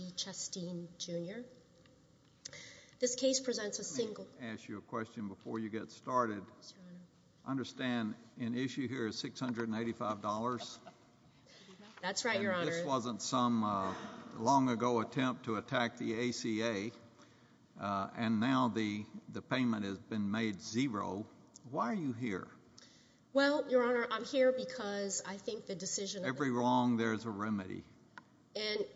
This case presents a single... Let me ask you a question before you get started. I understand an issue here is $685. That's right, Your Honor. This wasn't some long ago attempt to attack the ACA, and now the payment has been made zero. Why are you here? Well, Your Honor, I'm here because I think the decision... Every wrong, there's a remedy.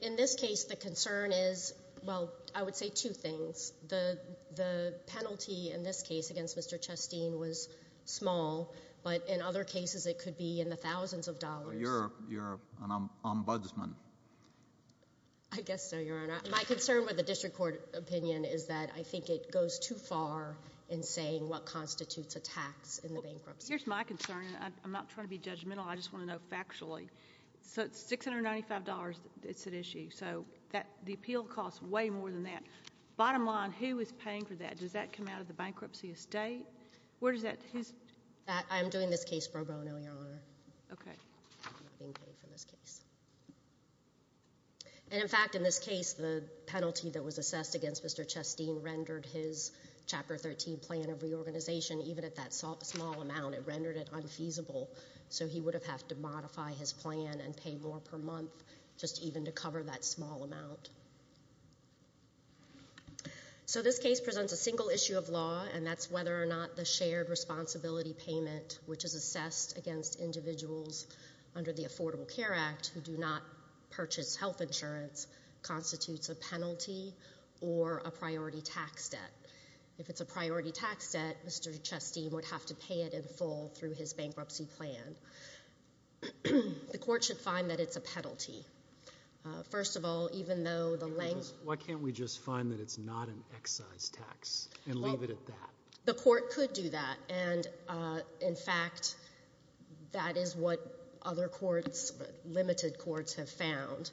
In this case, the concern is, well, I would say two things. The penalty in this case against Mr. Chesteen was small, but in other cases it could be in the thousands of dollars. You're an ombudsman. I guess so, Your Honor. My concern with the district court opinion is that I think it goes too far in saying what constitutes a tax in the bankruptcy. Here's my concern, and I'm not trying to be judgmental. I just want to know factually. So it's $695 that's at issue, so the appeal costs way more than that. Bottom line, who is paying for that? Does that come out of the bankruptcy estate? Where does that... I'm doing this case pro bono, Your Honor. Okay. I'm not being paid for this case. And in fact, in this case, the penalty that was assessed against Mr. Chesteen rendered his Chapter 13 plan of reorganization, even at that small amount, it rendered it unfeasible. So he would have had to modify his plan and pay more per month just even to cover that small amount. So this case presents a single issue of law, and that's whether or not the shared responsibility payment, which is assessed against individuals under the Affordable Care Act who do not purchase health insurance, constitutes a penalty or a priority tax debt. If it's a priority tax debt, Mr. Chesteen would have to pay it in full through his bankruptcy plan. The court should find that it's a penalty. First of all, even though the length... Why can't we just find that it's not an excise tax and leave it at that? The court could do that, and in fact, that is what other courts, limited courts, have found.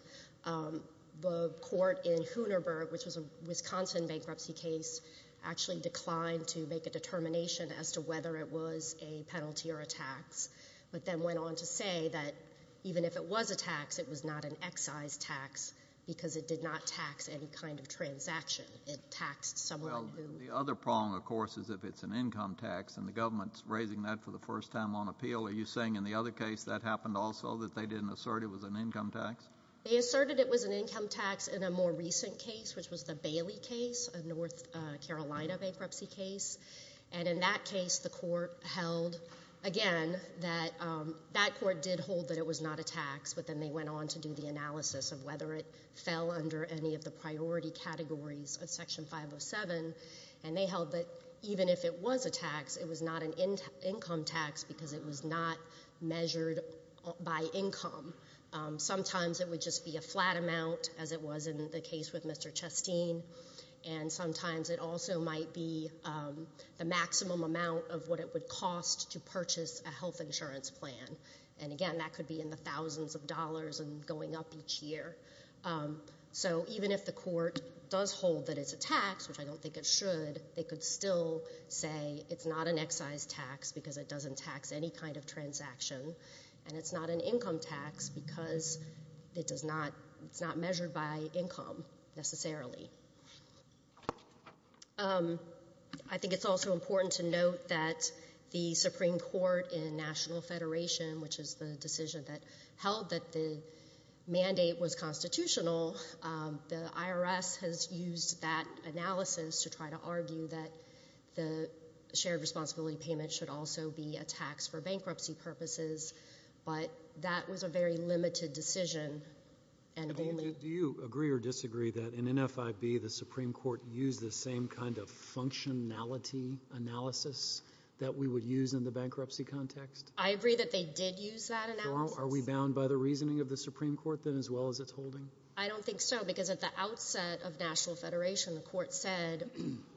The court in Huneberg, which was a Wisconsin bankruptcy case, actually declined to make a determination as to whether it was a penalty or a tax, but then went on to say that even if it was a tax, it was not an excise tax because it did not tax any kind of transaction. It taxed someone who... Well, the other prong, of course, is if it's an income tax, and the government's raising that for the first time on appeal. Are you saying in the other case that happened also, that they didn't assert it was an income tax? They asserted it was an income tax in a more recent case, which was the Bailey case, a North Carolina bankruptcy case. And in that case, the court held, again, that that court did hold that it was not a tax, but then they went on to do the analysis of whether it fell under any of the priority categories of Section 507, and they held that even if it was a tax, it was not an income tax because it was not measured by income. Sometimes it would just be a flat amount, as it was in the case with Mr. Chasteen, and sometimes it also might be the maximum amount of what it would cost to purchase a health insurance plan. And, again, that could be in the thousands of dollars and going up each year. So even if the court does hold that it's a tax, which I don't think it should, they could still say it's not an excise tax because it doesn't tax any kind of transaction, and it's not an income tax because it's not measured by income, necessarily. I think it's also important to note that the Supreme Court in National Federation, which is the decision that held that the mandate was constitutional, the IRS has used that analysis to try to argue that the shared responsibility payment should also be a tax for bankruptcy purposes, but that was a very limited decision. Do you agree or disagree that in NFIB the Supreme Court used the same kind of functionality analysis that we would use in the bankruptcy context? I agree that they did use that analysis. Are we bound by the reasoning of the Supreme Court then as well as its holding? I don't think so because at the outset of National Federation the court said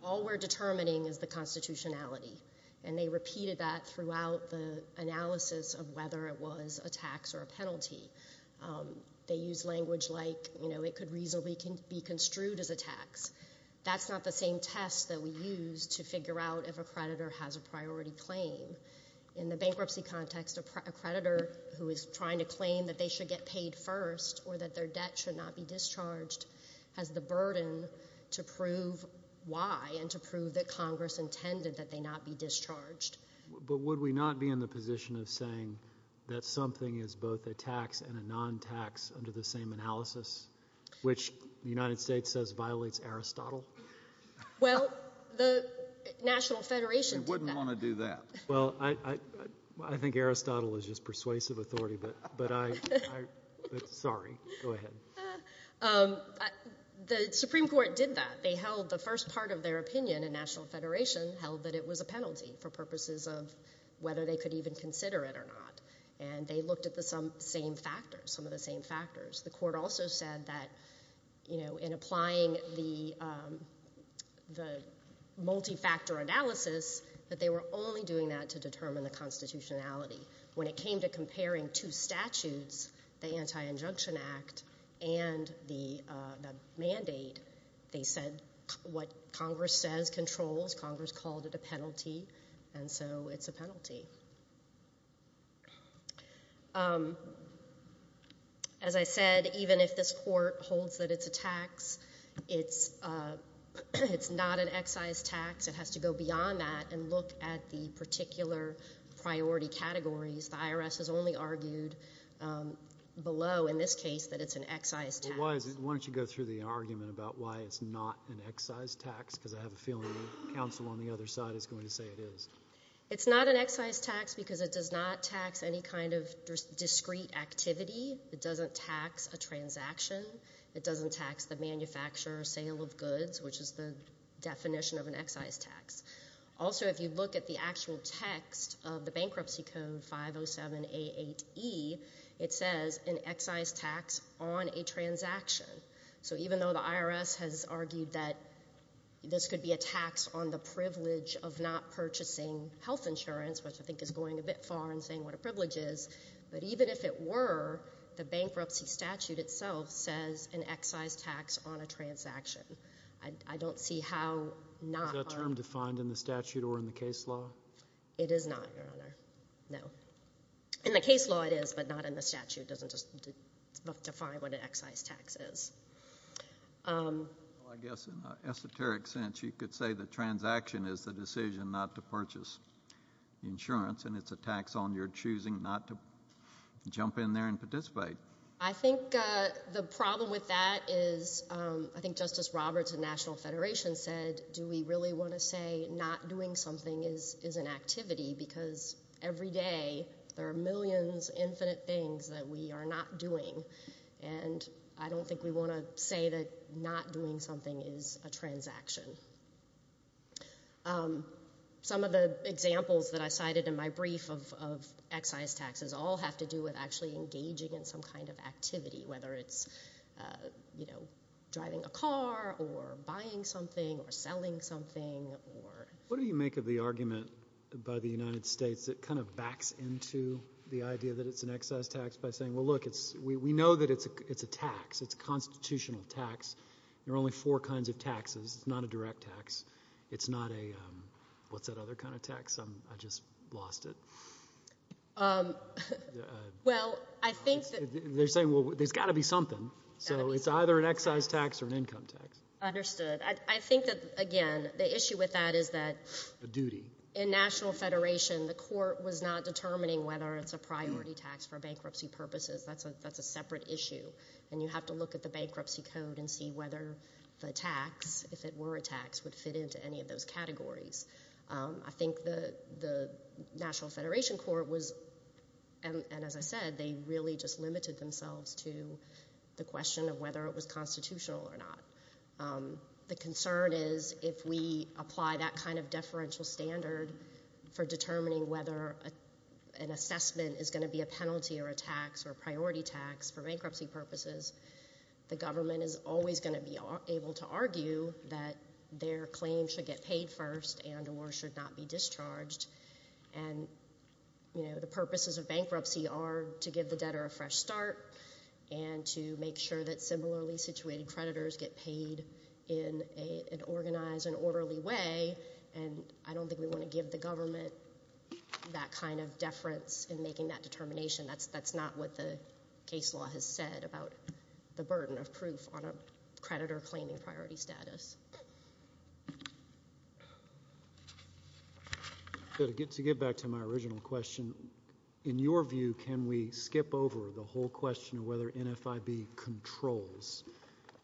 all we're determining is the constitutionality, and they repeated that throughout the analysis of whether it was a tax or a penalty. They used language like it could reasonably be construed as a tax. That's not the same test that we use to figure out if a creditor has a priority claim. In the bankruptcy context, a creditor who is trying to claim that they should get paid first or that their debt should not be discharged has the burden to prove why and to prove that Congress intended that they not be discharged. But would we not be in the position of saying that something is both a tax and a non-tax under the same analysis, which the United States says violates Aristotle? Well, the National Federation did that. We wouldn't want to do that. Well, I think Aristotle is just persuasive authority, but I'm sorry. Go ahead. The Supreme Court did that. They held the first part of their opinion in National Federation held that it was a penalty for purposes of whether they could even consider it or not, and they looked at some of the same factors. The court also said that in applying the multifactor analysis that they were only doing that to determine the constitutionality. When it came to comparing two statutes, the Anti-Injunction Act and the mandate, they said what Congress says controls. Congress called it a penalty, and so it's a penalty. As I said, even if this court holds that it's a tax, it's not an excise tax. It has to go beyond that and look at the particular priority categories. The IRS has only argued below in this case that it's an excise tax. Why don't you go through the argument about why it's not an excise tax, because I have a feeling the counsel on the other side is going to say it is. It's not an excise tax because it does not tax any kind of discrete activity. It doesn't tax a transaction. It doesn't tax the manufacturer or sale of goods, which is the definition of an excise tax. Also, if you look at the actual text of the Bankruptcy Code 507A8E, it says an excise tax on a transaction. So even though the IRS has argued that this could be a tax on the privilege of not purchasing health insurance, which I think is going a bit far in saying what a privilege is, but even if it were, the bankruptcy statute itself says an excise tax on a transaction. I don't see how not— Is that term defined in the statute or in the case law? It is not, Your Honor. No. In the case law it is, but not in the statute. It doesn't just define what an excise tax is. Well, I guess in an esoteric sense you could say the transaction is the decision not to purchase insurance and it's a tax on your choosing not to jump in there and participate. I think the problem with that is I think Justice Roberts of the National Federation said, do we really want to say not doing something is an activity because every day there are millions, infinite things that we are not doing, and I don't think we want to say that not doing something is a transaction. Some of the examples that I cited in my brief of excise taxes all have to do with actually engaging in some kind of activity, whether it's driving a car or buying something or selling something. What do you make of the argument by the United States that kind of backs into the idea that it's an excise tax by saying, well, look, we know that it's a tax. It's a constitutional tax. There are only four kinds of taxes. It's not a direct tax. It's not a what's-that-other-kind-of-tax. I just lost it. They're saying, well, there's got to be something. So it's either an excise tax or an income tax. Understood. I think that, again, the issue with that is that in National Federation, the court was not determining whether it's a priority tax for bankruptcy purposes. That's a separate issue, and you have to look at the bankruptcy code and see whether the tax, if it were a tax, would fit into any of those categories. I think the National Federation court was, and as I said, they really just limited themselves to the question of whether it was constitutional or not. The concern is if we apply that kind of deferential standard for determining whether an assessment is going to be a penalty or a tax or a priority tax for bankruptcy purposes, the government is always going to be able to argue that their claim should get paid first and or should not be discharged, and the purposes of bankruptcy are to give the debtor a fresh start and to make sure that similarly situated creditors get paid in an organized and orderly way, and I don't think we want to give the government that kind of deference in making that determination. That's not what the case law has said about the burden of proof on a creditor claiming priority status. To get back to my original question, in your view, can we skip over the whole question of whether NFIB controls?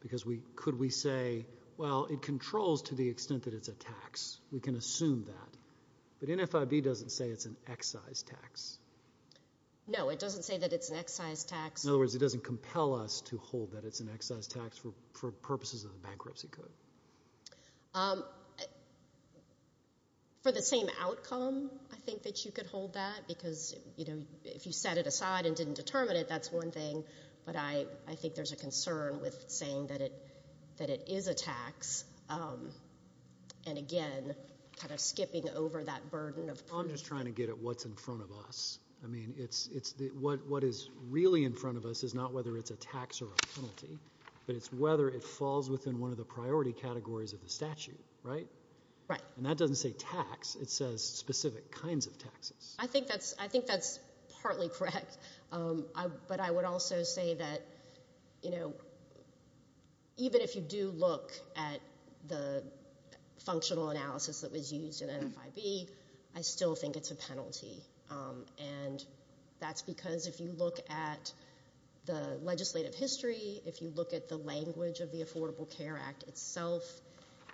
Because could we say, well, it controls to the extent that it's a tax. We can assume that. But NFIB doesn't say it's an excise tax. No, it doesn't say that it's an excise tax. In other words, it doesn't compel us to hold that it's an excise tax for purposes of the bankruptcy code. For the same outcome, I think that you could hold that, because if you set it aside and didn't determine it, that's one thing, but I think there's a concern with saying that it is a tax and, again, kind of skipping over that burden of proof. I'm just trying to get at what's in front of us. I mean, what is really in front of us is not whether it's a tax or a penalty, but it's whether it falls within one of the priority categories of the statute, right? Right. And that doesn't say tax. It says specific kinds of taxes. I think that's partly correct. But I would also say that, you know, even if you do look at the functional analysis that was used in NFIB, I still think it's a penalty. And that's because if you look at the legislative history, if you look at the language of the Affordable Care Act itself,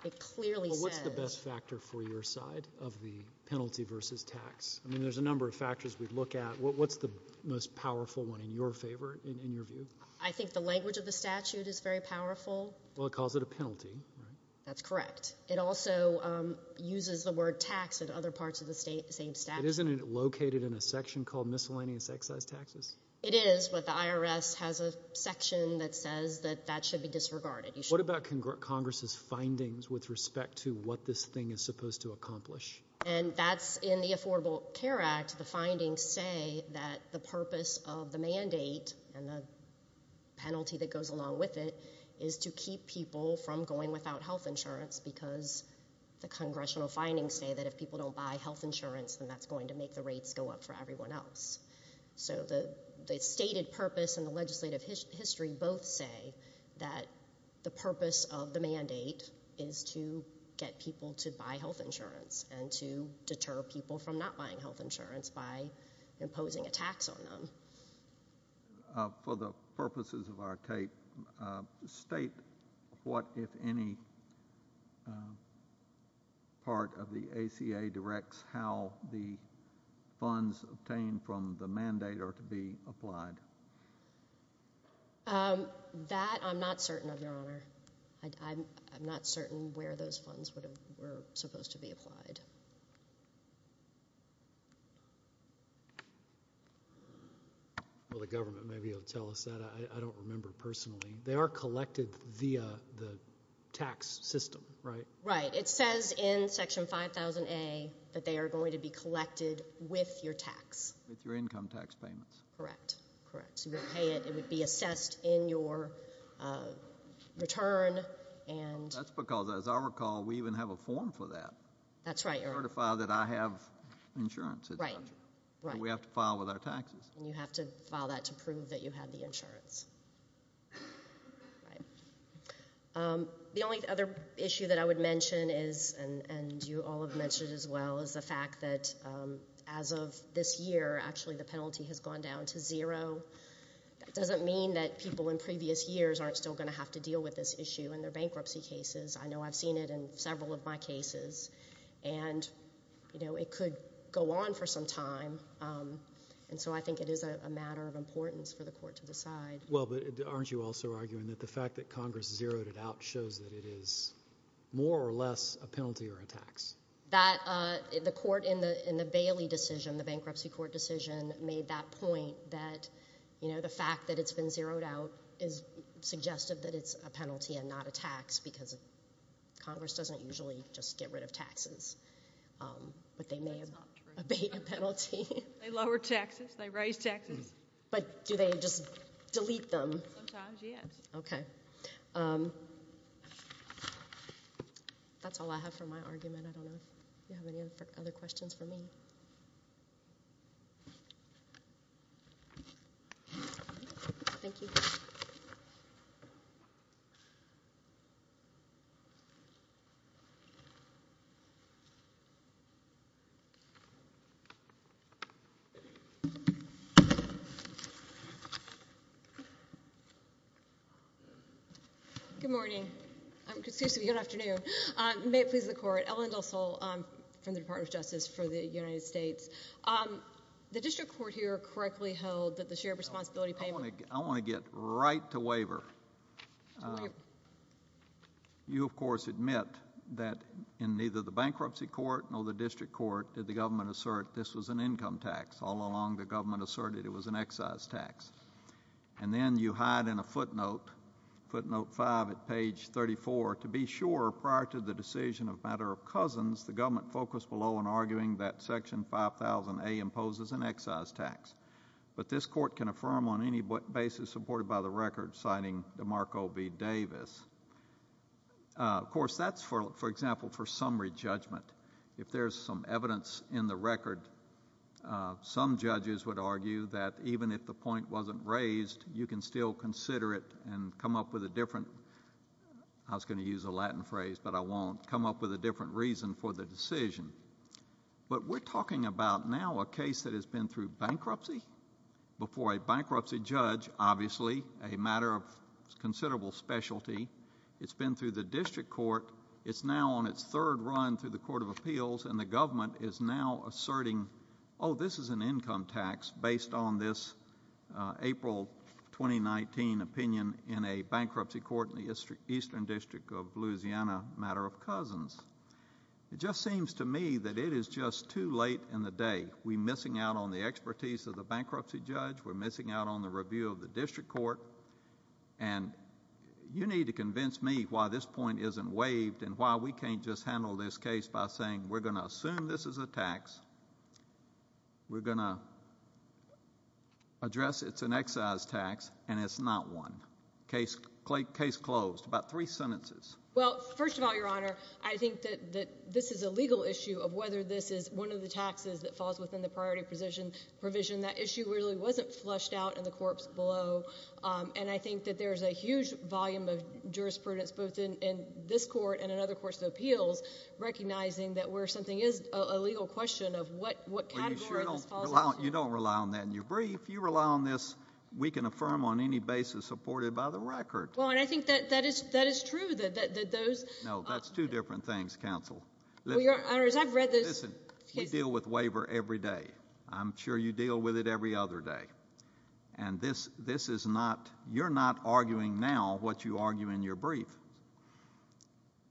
it clearly says. Well, what's the best factor for your side of the penalty versus tax? I mean, there's a number of factors we'd look at. What's the most powerful one in your favor, in your view? I think the language of the statute is very powerful. Well, it calls it a penalty, right? That's correct. It also uses the word tax in other parts of the same statute. Isn't it located in a section called miscellaneous excise taxes? It is, but the IRS has a section that says that that should be disregarded. And that's in the Affordable Care Act, the findings say that the purpose of the mandate and the penalty that goes along with it is to keep people from going without health insurance because the congressional findings say that if people don't buy health insurance, then that's going to make the rates go up for everyone else. So the stated purpose and the legislative history both say that the purpose of the mandate is to get people to buy health insurance and to deter people from not buying health insurance by imposing a tax on them. For the purposes of our tape, state what, if any, part of the ACA directs how the funds obtained from the mandate are to be applied. I'm not certain where those funds were supposed to be applied. Well, the government may be able to tell us that. I don't remember personally. They are collected via the tax system, right? Right. It says in Section 5000A that they are going to be collected with your tax. With your income tax payments. Correct, correct. It would be assessed in your return. That's because, as I recall, we even have a form for that. That's right. To certify that I have insurance. Right, right. We have to file with our taxes. You have to file that to prove that you have the insurance. The only other issue that I would mention is, and you all have mentioned as well, is the fact that as of this year, actually the penalty has gone down to zero. That doesn't mean that people in previous years aren't still going to have to deal with this issue in their bankruptcy cases. I know I've seen it in several of my cases. And it could go on for some time. And so I think it is a matter of importance for the court to decide. Well, but aren't you also arguing that the fact that Congress zeroed it out shows that it is more or less a penalty or a tax? The court in the Bailey decision, the bankruptcy court decision, made that point that the fact that it's been zeroed out is suggestive that it's a penalty and not a tax because Congress doesn't usually just get rid of taxes. But they may abate a penalty. They lower taxes. They raise taxes. But do they just delete them? Sometimes, yes. Okay. That's all I have for my argument. I don't know if you have any other questions for me. Thank you. Good morning. Excuse me. Good afternoon. May it please the Court. Ellen Dussel from the Department of Justice for the United States. The district court here correctly held that the shared responsibility payment. I want to get right to waiver. You, of course, admit that in neither the bankruptcy court nor the district court did the government assert this was an income tax. All along, the government asserted it was an excise tax. And then you hide in a footnote, footnote 5 at page 34, to be sure prior to the decision of a matter of cousins, the government focused below on arguing that Section 5000A imposes an excise tax. But this court can affirm on any basis supported by the record, citing DeMarco v. Davis. Of course, that's, for example, for summary judgment. If there's some evidence in the record, some judges would argue that even if the point wasn't raised, you can still consider it and come up with a different, I was going to use a Latin phrase, but I won't, come up with a different reason for the decision. But we're talking about now a case that has been through bankruptcy before a bankruptcy judge, obviously a matter of considerable specialty. It's been through the district court. It's now on its third run through the Court of Appeals, and the government is now asserting, oh, this is an income tax based on this April 2019 opinion in a bankruptcy court in the Eastern District of Louisiana, a matter of cousins. It just seems to me that it is just too late in the day. We're missing out on the expertise of the bankruptcy judge. We're missing out on the review of the district court. And you need to convince me why this point isn't waived and why we can't just handle this case by saying we're going to assume this is a tax, we're going to address it's an excise tax, and it's not one. Case closed. About three sentences. Well, first of all, Your Honor, I think that this is a legal issue of whether this is one of the taxes that falls within the priority provision. That issue really wasn't flushed out in the corpse below, and I think that there's a huge volume of jurisprudence both in this court and in other courts of appeals recognizing that where something is a legal question of what category this falls into. Well, you sure don't rely on that in your brief. You rely on this. We can affirm on any basis supported by the record. Well, and I think that is true that those— No, that's two different things, counsel. Well, Your Honor, as I've read those cases— Listen, we deal with waiver every day. I'm sure you deal with it every other day. And this is not—you're not arguing now what you argue in your brief.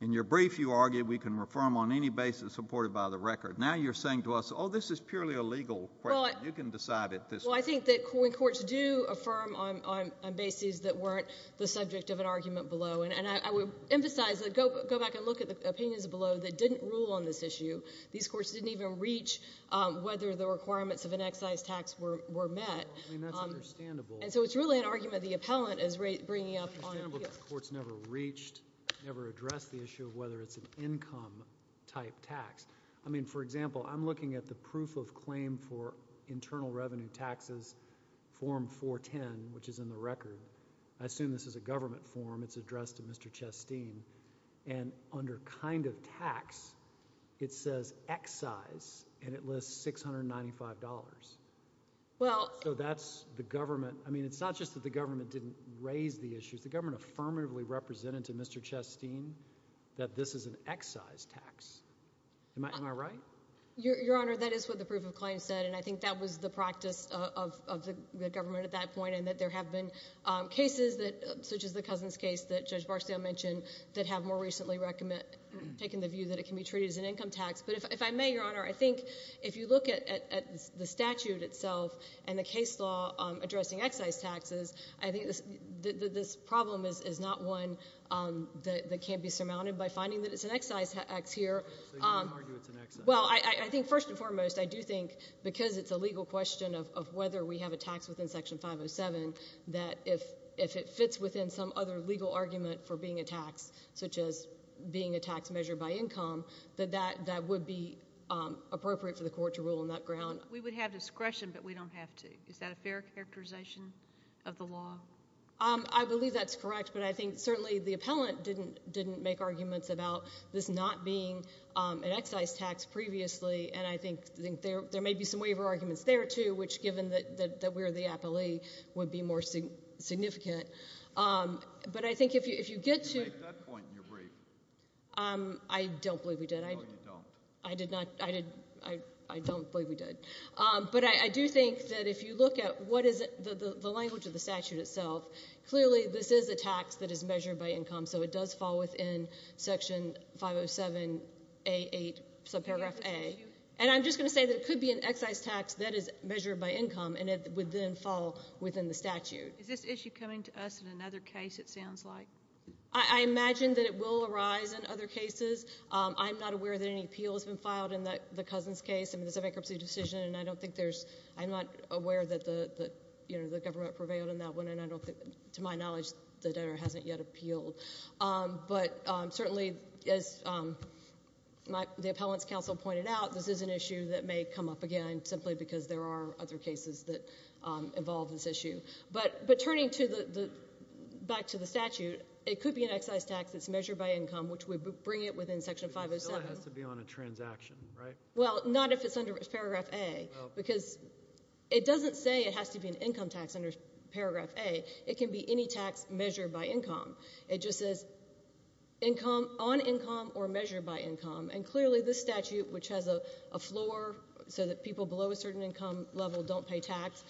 In your brief, you argue we can affirm on any basis supported by the record. Now you're saying to us, oh, this is purely a legal question. You can decide it this way. Well, I think that courts do affirm on bases that weren't the subject of an argument below, and I would emphasize, go back and look at the opinions below that didn't rule on this issue. These courts didn't even reach whether the requirements of an excise tax were met. I mean, that's understandable. And so it's really an argument the appellant is bringing up on— It's understandable that the courts never reached, never addressed the issue of whether it's an income-type tax. I mean, for example, I'm looking at the proof of claim for internal revenue taxes, Form 410, which is in the record. I assume this is a government form. It's addressed to Mr. Chasteen. And under kind of tax, it says excise, and it lists $695. So that's the government. I mean, it's not just that the government didn't raise the issues. The government affirmatively represented to Mr. Chasteen that this is an excise tax. Am I right? Your Honor, that is what the proof of claim said, and I think that was the practice of the government at that point, and that there have been cases such as the Cousins case that Judge Barksdale mentioned that have more recently taken the view that it can be treated as an income tax. But if I may, Your Honor, I think if you look at the statute itself and the case law addressing excise taxes, I think this problem is not one that can't be surmounted by finding that it's an excise tax here. So you wouldn't argue it's an excise tax? Well, I think first and foremost, I do think because it's a legal question of whether we have a tax within Section 507, that if it fits within some other legal argument for being a tax, such as being a tax measured by income, that that would be appropriate for the court to rule on that ground. We would have discretion, but we don't have to. Is that a fair characterization of the law? I believe that's correct, but I think certainly the appellant didn't make arguments about this not being an excise tax previously, and I think there may be some waiver arguments there, too, which, given that we're the appellee, would be more significant. But I think if you get to— You made that point in your brief. I don't believe we did. No, you don't. I don't believe we did. But I do think that if you look at what is the language of the statute itself, clearly this is a tax that is measured by income, so it does fall within Section 507A8, subparagraph A. And I'm just going to say that it could be an excise tax that is measured by income, and it would then fall within the statute. Is this issue coming to us in another case, it sounds like? I imagine that it will arise in other cases. I'm not aware that any appeal has been filed in the Cousins case. I mean, it's a bankruptcy decision, and I don't think there's— I'm not aware that the government prevailed in that one, and to my knowledge, the debtor hasn't yet appealed. But certainly, as the appellant's counsel pointed out, this is an issue that may come up again simply because there are other cases that involve this issue. But turning back to the statute, it could be an excise tax that's measured by income, which would bring it within Section 507. But it still has to be on a transaction, right? Well, not if it's under Paragraph A, because it doesn't say it has to be an income tax under Paragraph A. It can be any tax measured by income. It just says on income or measured by income. And clearly, this statute, which has a floor so that people below a certain income level don't pay tax,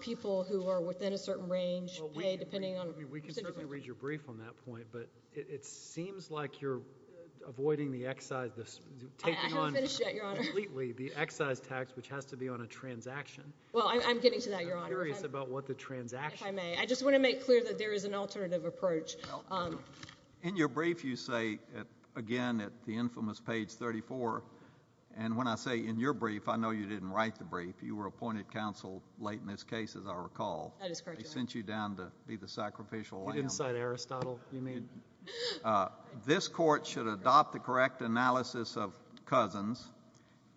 people who are within a certain range pay depending on— We can certainly read your brief on that point, but it seems like you're avoiding the excise— I haven't finished yet, Your Honor. Completely, the excise tax, which has to be on a transaction. Well, I'm getting to that, Your Honor. I'm curious about what the transaction— If I may, I just want to make clear that there is an alternative approach. In your brief, you say, again, at the infamous page 34, and when I say in your brief, I know you didn't write the brief. You were appointed counsel late in this case, as I recall. That is correct, Your Honor. They sent you down to be the sacrificial lamb. You didn't cite Aristotle, you mean? This court should adopt the correct analysis of Cousins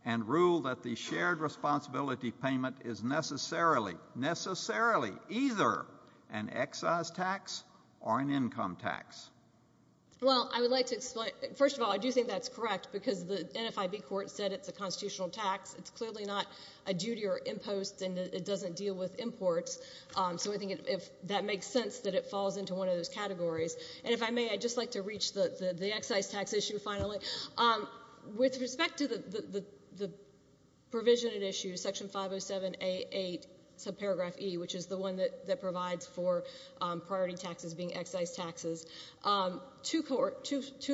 and rule that the shared responsibility payment is necessarily, necessarily either an excise tax or an income tax. Well, I would like to explain— First of all, I do think that's correct because the NFIB court said it's a constitutional tax. It's clearly not a duty or impost, and it doesn't deal with imports. So I think that makes sense that it falls into one of those categories. And if I may, I'd just like to reach the excise tax issue finally. With respect to the provision in issue, section 507A8, subparagraph E, which is the one that provides for priority taxes being excise taxes, two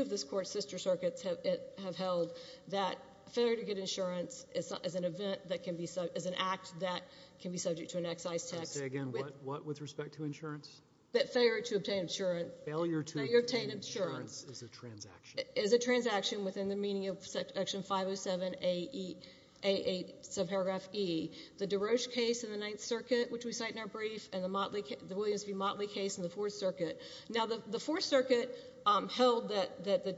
of this court's sister circuits have held that failure to get insurance is an event that can be— is an act that can be subject to an excise tax. Say again, what with respect to insurance? That failure to obtain insurance. Failure to obtain insurance is a transaction. Is a transaction within the meaning of section 507A8, subparagraph E. The DeRoche case in the Ninth Circuit, which we cite in our brief, and the Motley — the Williams v. Motley case in the Fourth Circuit. Now, the Fourth Circuit held that the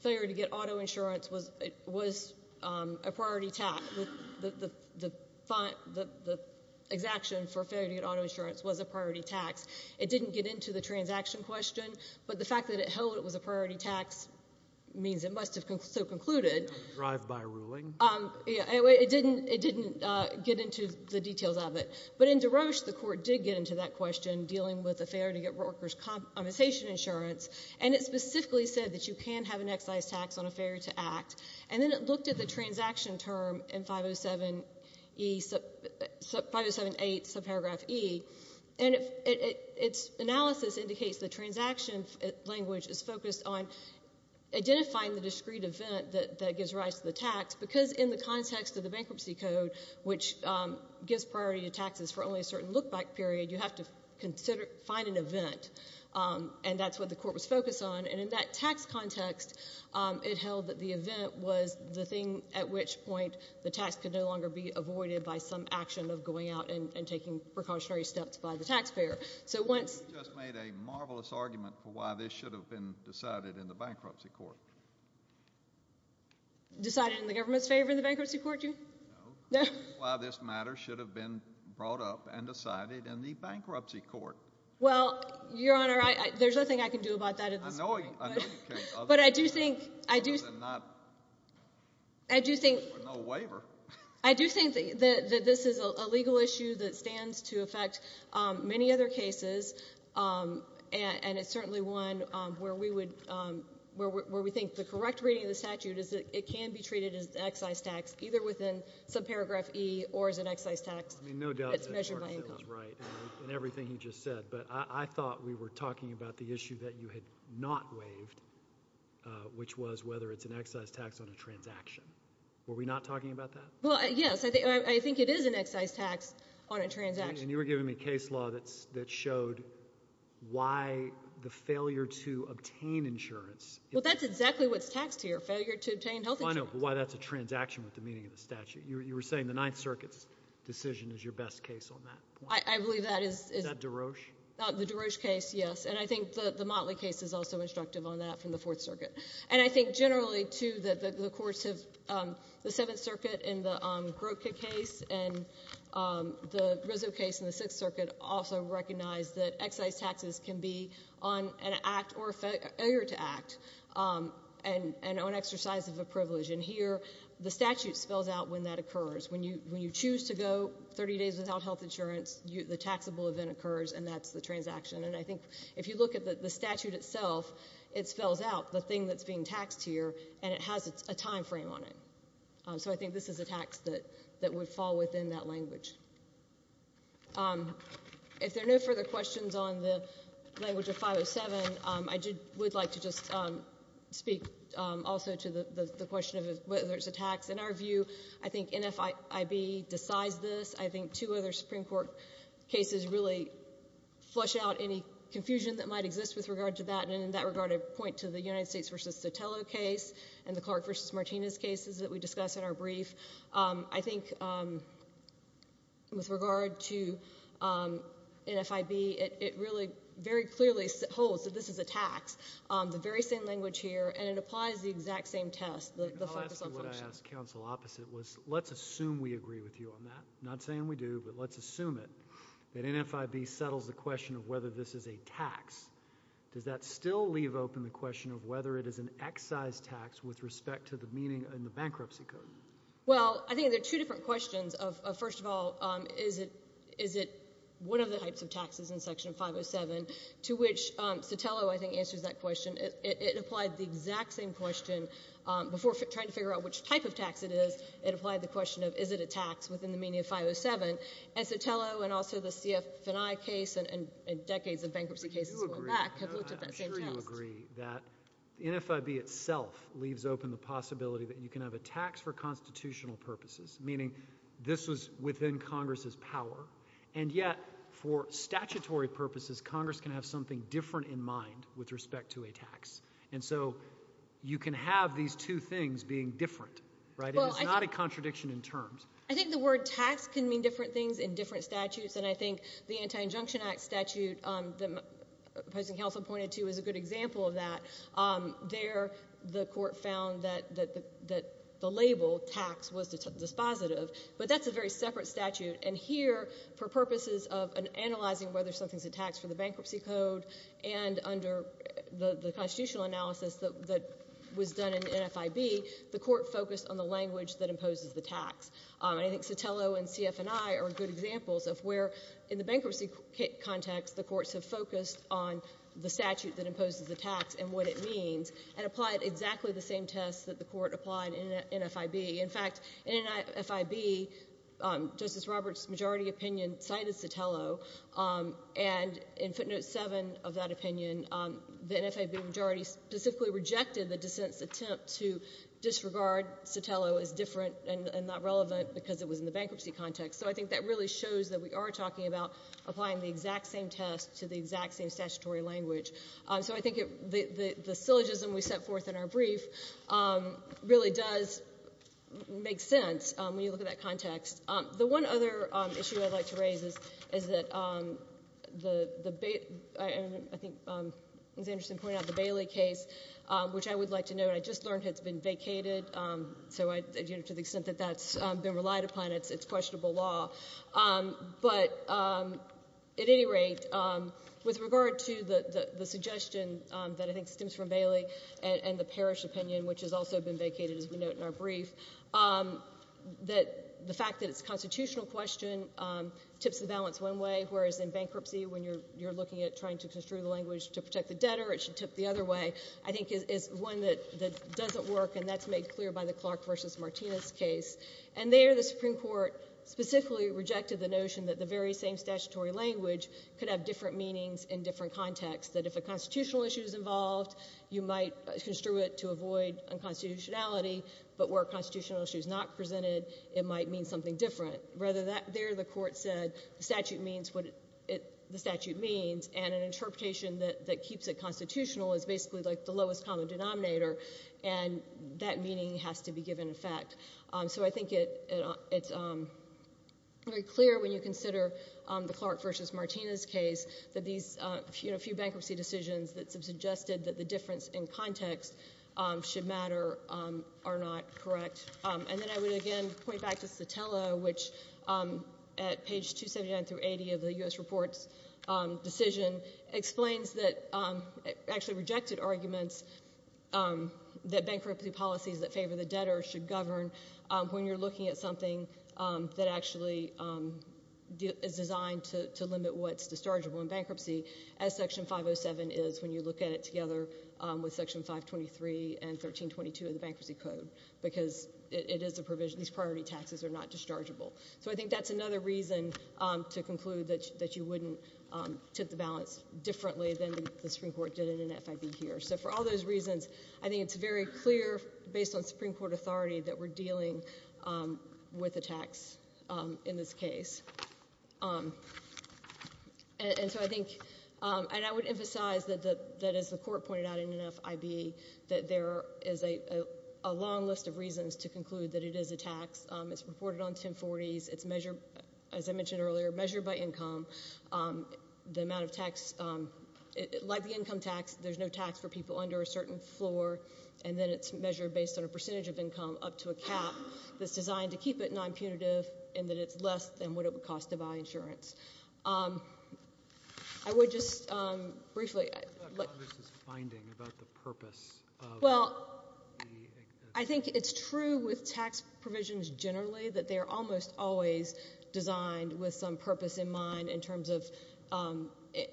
failure to get auto insurance was a priority tax. The exaction for failure to get auto insurance was a priority tax. It didn't get into the transaction question, but the fact that it held it was a priority tax means it must have so concluded. Drive-by ruling. It didn't get into the details of it. But in DeRoche, the court did get into that question, dealing with the failure to get workers' compensation insurance, and it specifically said that you can have an excise tax on a failure to act. And then it looked at the transaction term in 507E — 507A8, subparagraph E, and its analysis indicates the transaction language is focused on identifying the discrete event that gives rise to the tax, because in the context of the Bankruptcy Code, which gives priority to taxes for only a certain look-back period, you have to consider — find an event, and that's what the court was focused on. And in that tax context, it held that the event was the thing at which point the tax could no longer be avoided by some action of going out and taking precautionary steps by the taxpayer. So once — You just made a marvelous argument for why this should have been decided in the Bankruptcy Court. Decided in the government's favor in the Bankruptcy Court? No. Why this matter should have been brought up and decided in the Bankruptcy Court. But I do think — I do think — I do think that this is a legal issue that stands to affect many other cases, and it's certainly one where we would — where we think the correct reading of the statute is that it can be treated as an excise tax, either within subparagraph E or as an excise tax. I mean, no doubt that Mark said was right in everything he just said, but I thought we were talking about the issue that you had not waived, which was whether it's an excise tax on a transaction. Were we not talking about that? Well, yes. I think it is an excise tax on a transaction. And you were giving me a case law that showed why the failure to obtain insurance — Well, that's exactly what's taxed here, failure to obtain health insurance. I know, but why that's a transaction with the meaning of the statute. You were saying the Ninth Circuit's decision is your best case on that point. I believe that is — Is that DeRoche? The DeRoche case, yes. And I think the Motley case is also instructive on that from the Fourth Circuit. And I think generally, too, that the courts have — the Seventh Circuit in the Grotka case and the Rizzo case in the Sixth Circuit also recognize that excise taxes can be on an act or a failure to act and on exercise of a privilege. And here the statute spells out when that occurs. When you choose to go 30 days without health insurance, the taxable event occurs, and that's the transaction. And I think if you look at the statute itself, it spells out the thing that's being taxed here, and it has a timeframe on it. So I think this is a tax that would fall within that language. If there are no further questions on the language of 507, I would like to just speak also to the question of whether it's a tax. In our view, I think NFIB decides this. I think two other Supreme Court cases really flush out any confusion that might exist with regard to that. And in that regard, I'd point to the United States v. Sotelo case and the Clark v. Martinez cases that we discussed in our brief. I think with regard to NFIB, it really very clearly holds that this is a tax, the very same language here, and it applies the exact same test, the focus on function. What I would ask counsel opposite was let's assume we agree with you on that. I'm not saying we do, but let's assume it, that NFIB settles the question of whether this is a tax. Does that still leave open the question of whether it is an excise tax with respect to the meaning in the bankruptcy code? Well, I think there are two different questions. First of all, is it one of the types of taxes in Section 507, to which Sotelo, I think, answers that question. It applied the exact same question before trying to figure out which type of tax it is. It applied the question of is it a tax within the meaning of 507. And Sotelo and also the CF&I case and decades of bankruptcy cases going back have looked at that same test. I'm sure you agree that NFIB itself leaves open the possibility that you can have a tax for constitutional purposes, meaning this was within Congress's power, and yet for statutory purposes, Congress can have something different in mind with respect to a tax. And so you can have these two things being different. It is not a contradiction in terms. I think the word tax can mean different things in different statutes, and I think the Anti-Injunction Act statute that the opposing counsel pointed to is a good example of that. There the court found that the label tax was dispositive, but that's a very separate statute. And here, for purposes of analyzing whether something's a tax for the bankruptcy code and under the constitutional analysis that was done in NFIB, the court focused on the language that imposes the tax. And I think Sotelo and CF&I are good examples of where in the bankruptcy context, the courts have focused on the statute that imposes the tax and what it means and applied exactly the same tests that the court applied in NFIB. In fact, in NFIB, Justice Roberts' majority opinion cited Sotelo, and in footnote 7 of that opinion, the NFIB majority specifically rejected the dissent's attempt to disregard Sotelo as different and not relevant because it was in the bankruptcy context. So I think that really shows that we are talking about applying the exact same test to the exact same statutory language. So I think the syllogism we set forth in our brief really does make sense when you look at that context. The one other issue I'd like to raise is that I think Ms. Anderson pointed out the Bailey case, which I would like to note, I just learned it's been vacated. So to the extent that that's been relied upon, it's questionable law. But at any rate, with regard to the suggestion that I think stems from Bailey and the Parrish opinion, which has also been vacated, as we note in our brief, that the fact that it's a constitutional question tips the balance one way, whereas in bankruptcy, when you're looking at trying to construe the language to protect the debtor, it should tip the other way, I think is one that doesn't work, and that's made clear by the Clark v. Martinez case. And there the Supreme Court specifically rejected the notion that the very same statutory language could have different meanings in different contexts, that if a constitutional issue is involved, you might construe it to avoid unconstitutionality, but where a constitutional issue is not presented, it might mean something different. Rather, there the Court said the statute means what the statute means, and an interpretation that keeps it constitutional is basically like the lowest common denominator, and that meaning has to be given effect. So I think it's very clear when you consider the Clark v. Martinez case that these few bankruptcy decisions that have suggested that the difference in context should matter are not correct. And then I would again point back to Sotelo, which at page 279 through 80 of the U.S. Reports decision explains that actually rejected arguments that bankruptcy policies that favor the debtor should govern when you're looking at something that actually is designed to limit what's dischargeable in bankruptcy, as Section 507 is when you look at it together with Section 523 and 1322 of the Bankruptcy Code, because these priority taxes are not dischargeable. So I think that's another reason to conclude that you wouldn't tip the balance differently than the Supreme Court did in an FIV here. So for all those reasons, I think it's very clear based on Supreme Court authority that we're dealing with a tax in this case. And so I think, and I would emphasize that as the Court pointed out in an FIV, that there is a long list of reasons to conclude that it is a tax. It's reported on 1040s. It's measured, as I mentioned earlier, measured by income. The amount of tax, like the income tax, there's no tax for people under a certain floor, and then it's measured based on a percentage of income up to a cap that's designed to keep it non-punitive and that it's less than what it would cost to buy insurance. I would just briefly... What about Congress's finding about the purpose of the... Well, I think it's true with tax provisions generally that they're almost always designed with some purpose in mind in terms of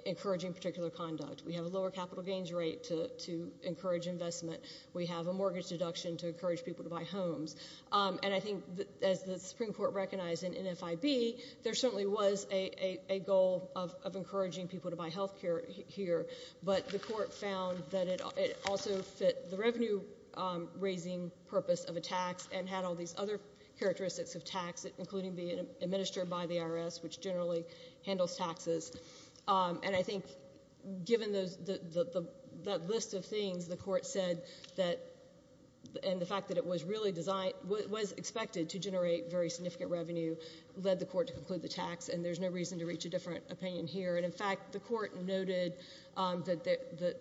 encouraging particular conduct. We have a lower capital gains rate to encourage investment. We have a mortgage deduction to encourage people to buy homes. And I think, as the Supreme Court recognized in NFIB, there certainly was a goal of encouraging people to buy health care here, but the Court found that it also fit the revenue-raising purpose of a tax and had all these other characteristics of tax, including being administered by the IRS, which generally handles taxes. And I think, given that list of things, the Court said that... And the fact that it was expected to generate very significant revenue led the Court to conclude the tax, and there's no reason to reach a different opinion here. And, in fact, the Court noted that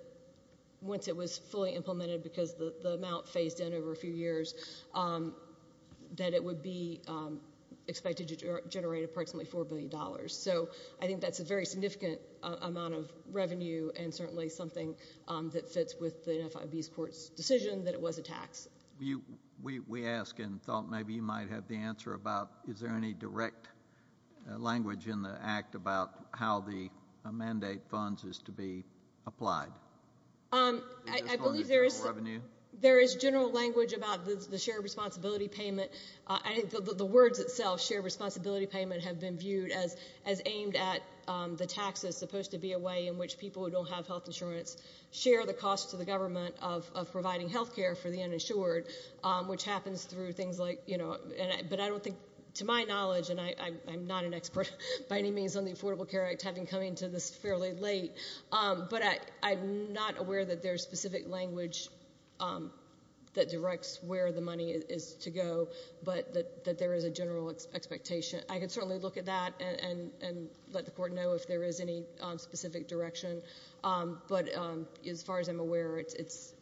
once it was fully implemented, because the amount phased in over a few years, that it would be expected to generate approximately $4 billion. So I think that's a very significant amount of revenue and certainly something that fits with the NFIB's Court's decision that it was a tax. We asked and thought maybe you might have the answer about is there any direct language in the Act about how the mandate funds is to be applied? I believe there is general language about the shared responsibility payment. I think the words itself, shared responsibility payment, have been viewed as aimed at the taxes, supposed to be a way in which people who don't have health insurance share the cost to the government of providing health care for the uninsured, which happens through things like, you know, but I don't think, to my knowledge, and I'm not an expert by any means on the Affordable Care Act, having come into this fairly late, but I'm not aware that there's specific language that directs where the money is to go, but that there is a general expectation. I can certainly look at that and let the Court know if there is any specific direction, but as far as I'm aware, it's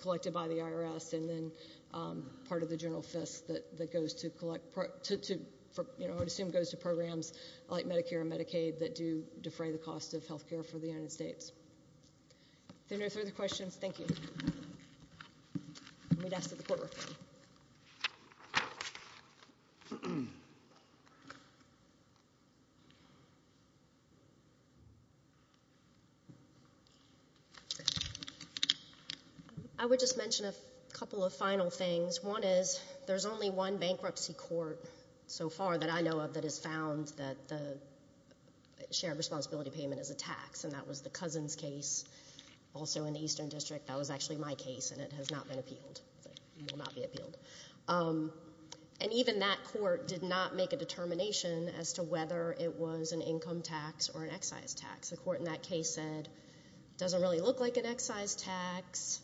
collected by the IRS and then part of the general FISC that goes to collect, you know, I would assume goes to programs like Medicare and Medicaid that do defray the cost of health care for the United States. If there are no further questions, thank you. We'd ask that the Court refer you. Thank you. I would just mention a couple of final things. One is there's only one bankruptcy court so far that I know of that has found that the shared responsibility payment is a tax, and that was the Cousins case also in the Eastern District. That was actually my case, and it has not been appealed. It will not be appealed. And even that court did not make a determination as to whether it was an income tax or an excise tax. The court in that case said it doesn't really look like an excise tax,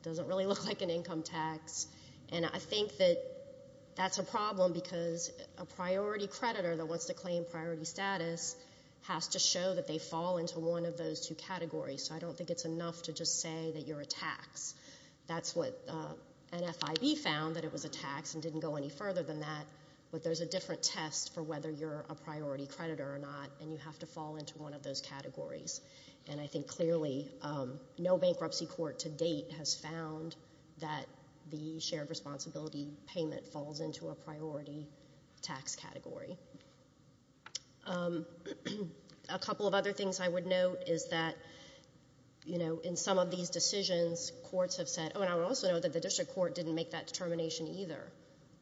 it doesn't really look like an income tax, and I think that that's a problem because a priority creditor that wants to claim priority status has to show that they fall into one of those two categories, so I don't think it's enough to just say that you're a tax. That's what NFIB found, that it was a tax and didn't go any further than that, but there's a different test for whether you're a priority creditor or not, and you have to fall into one of those categories. And I think clearly no bankruptcy court to date has found that the shared responsibility payment falls into a priority tax category. A couple of other things I would note is that, you know, in some of these decisions, courts have said, oh, and I would also note that the district court didn't make that determination either.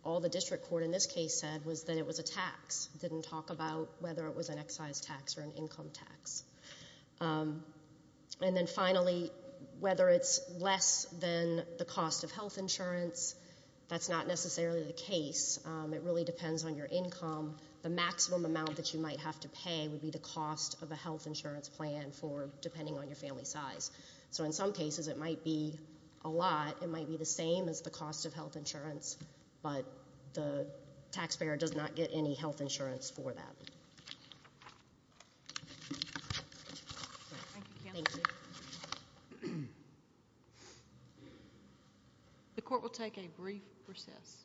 All the district court in this case said was that it was a tax, didn't talk about whether it was an excise tax or an income tax. And then finally, whether it's less than the cost of health insurance, that's not necessarily the case. It really depends on your income. The maximum amount that you might have to pay would be the cost of a health insurance plan depending on your family size. So in some cases it might be a lot. It might be the same as the cost of health insurance, but the taxpayer does not get any health insurance for that. Thank you. Thank you. The court will take a brief recess.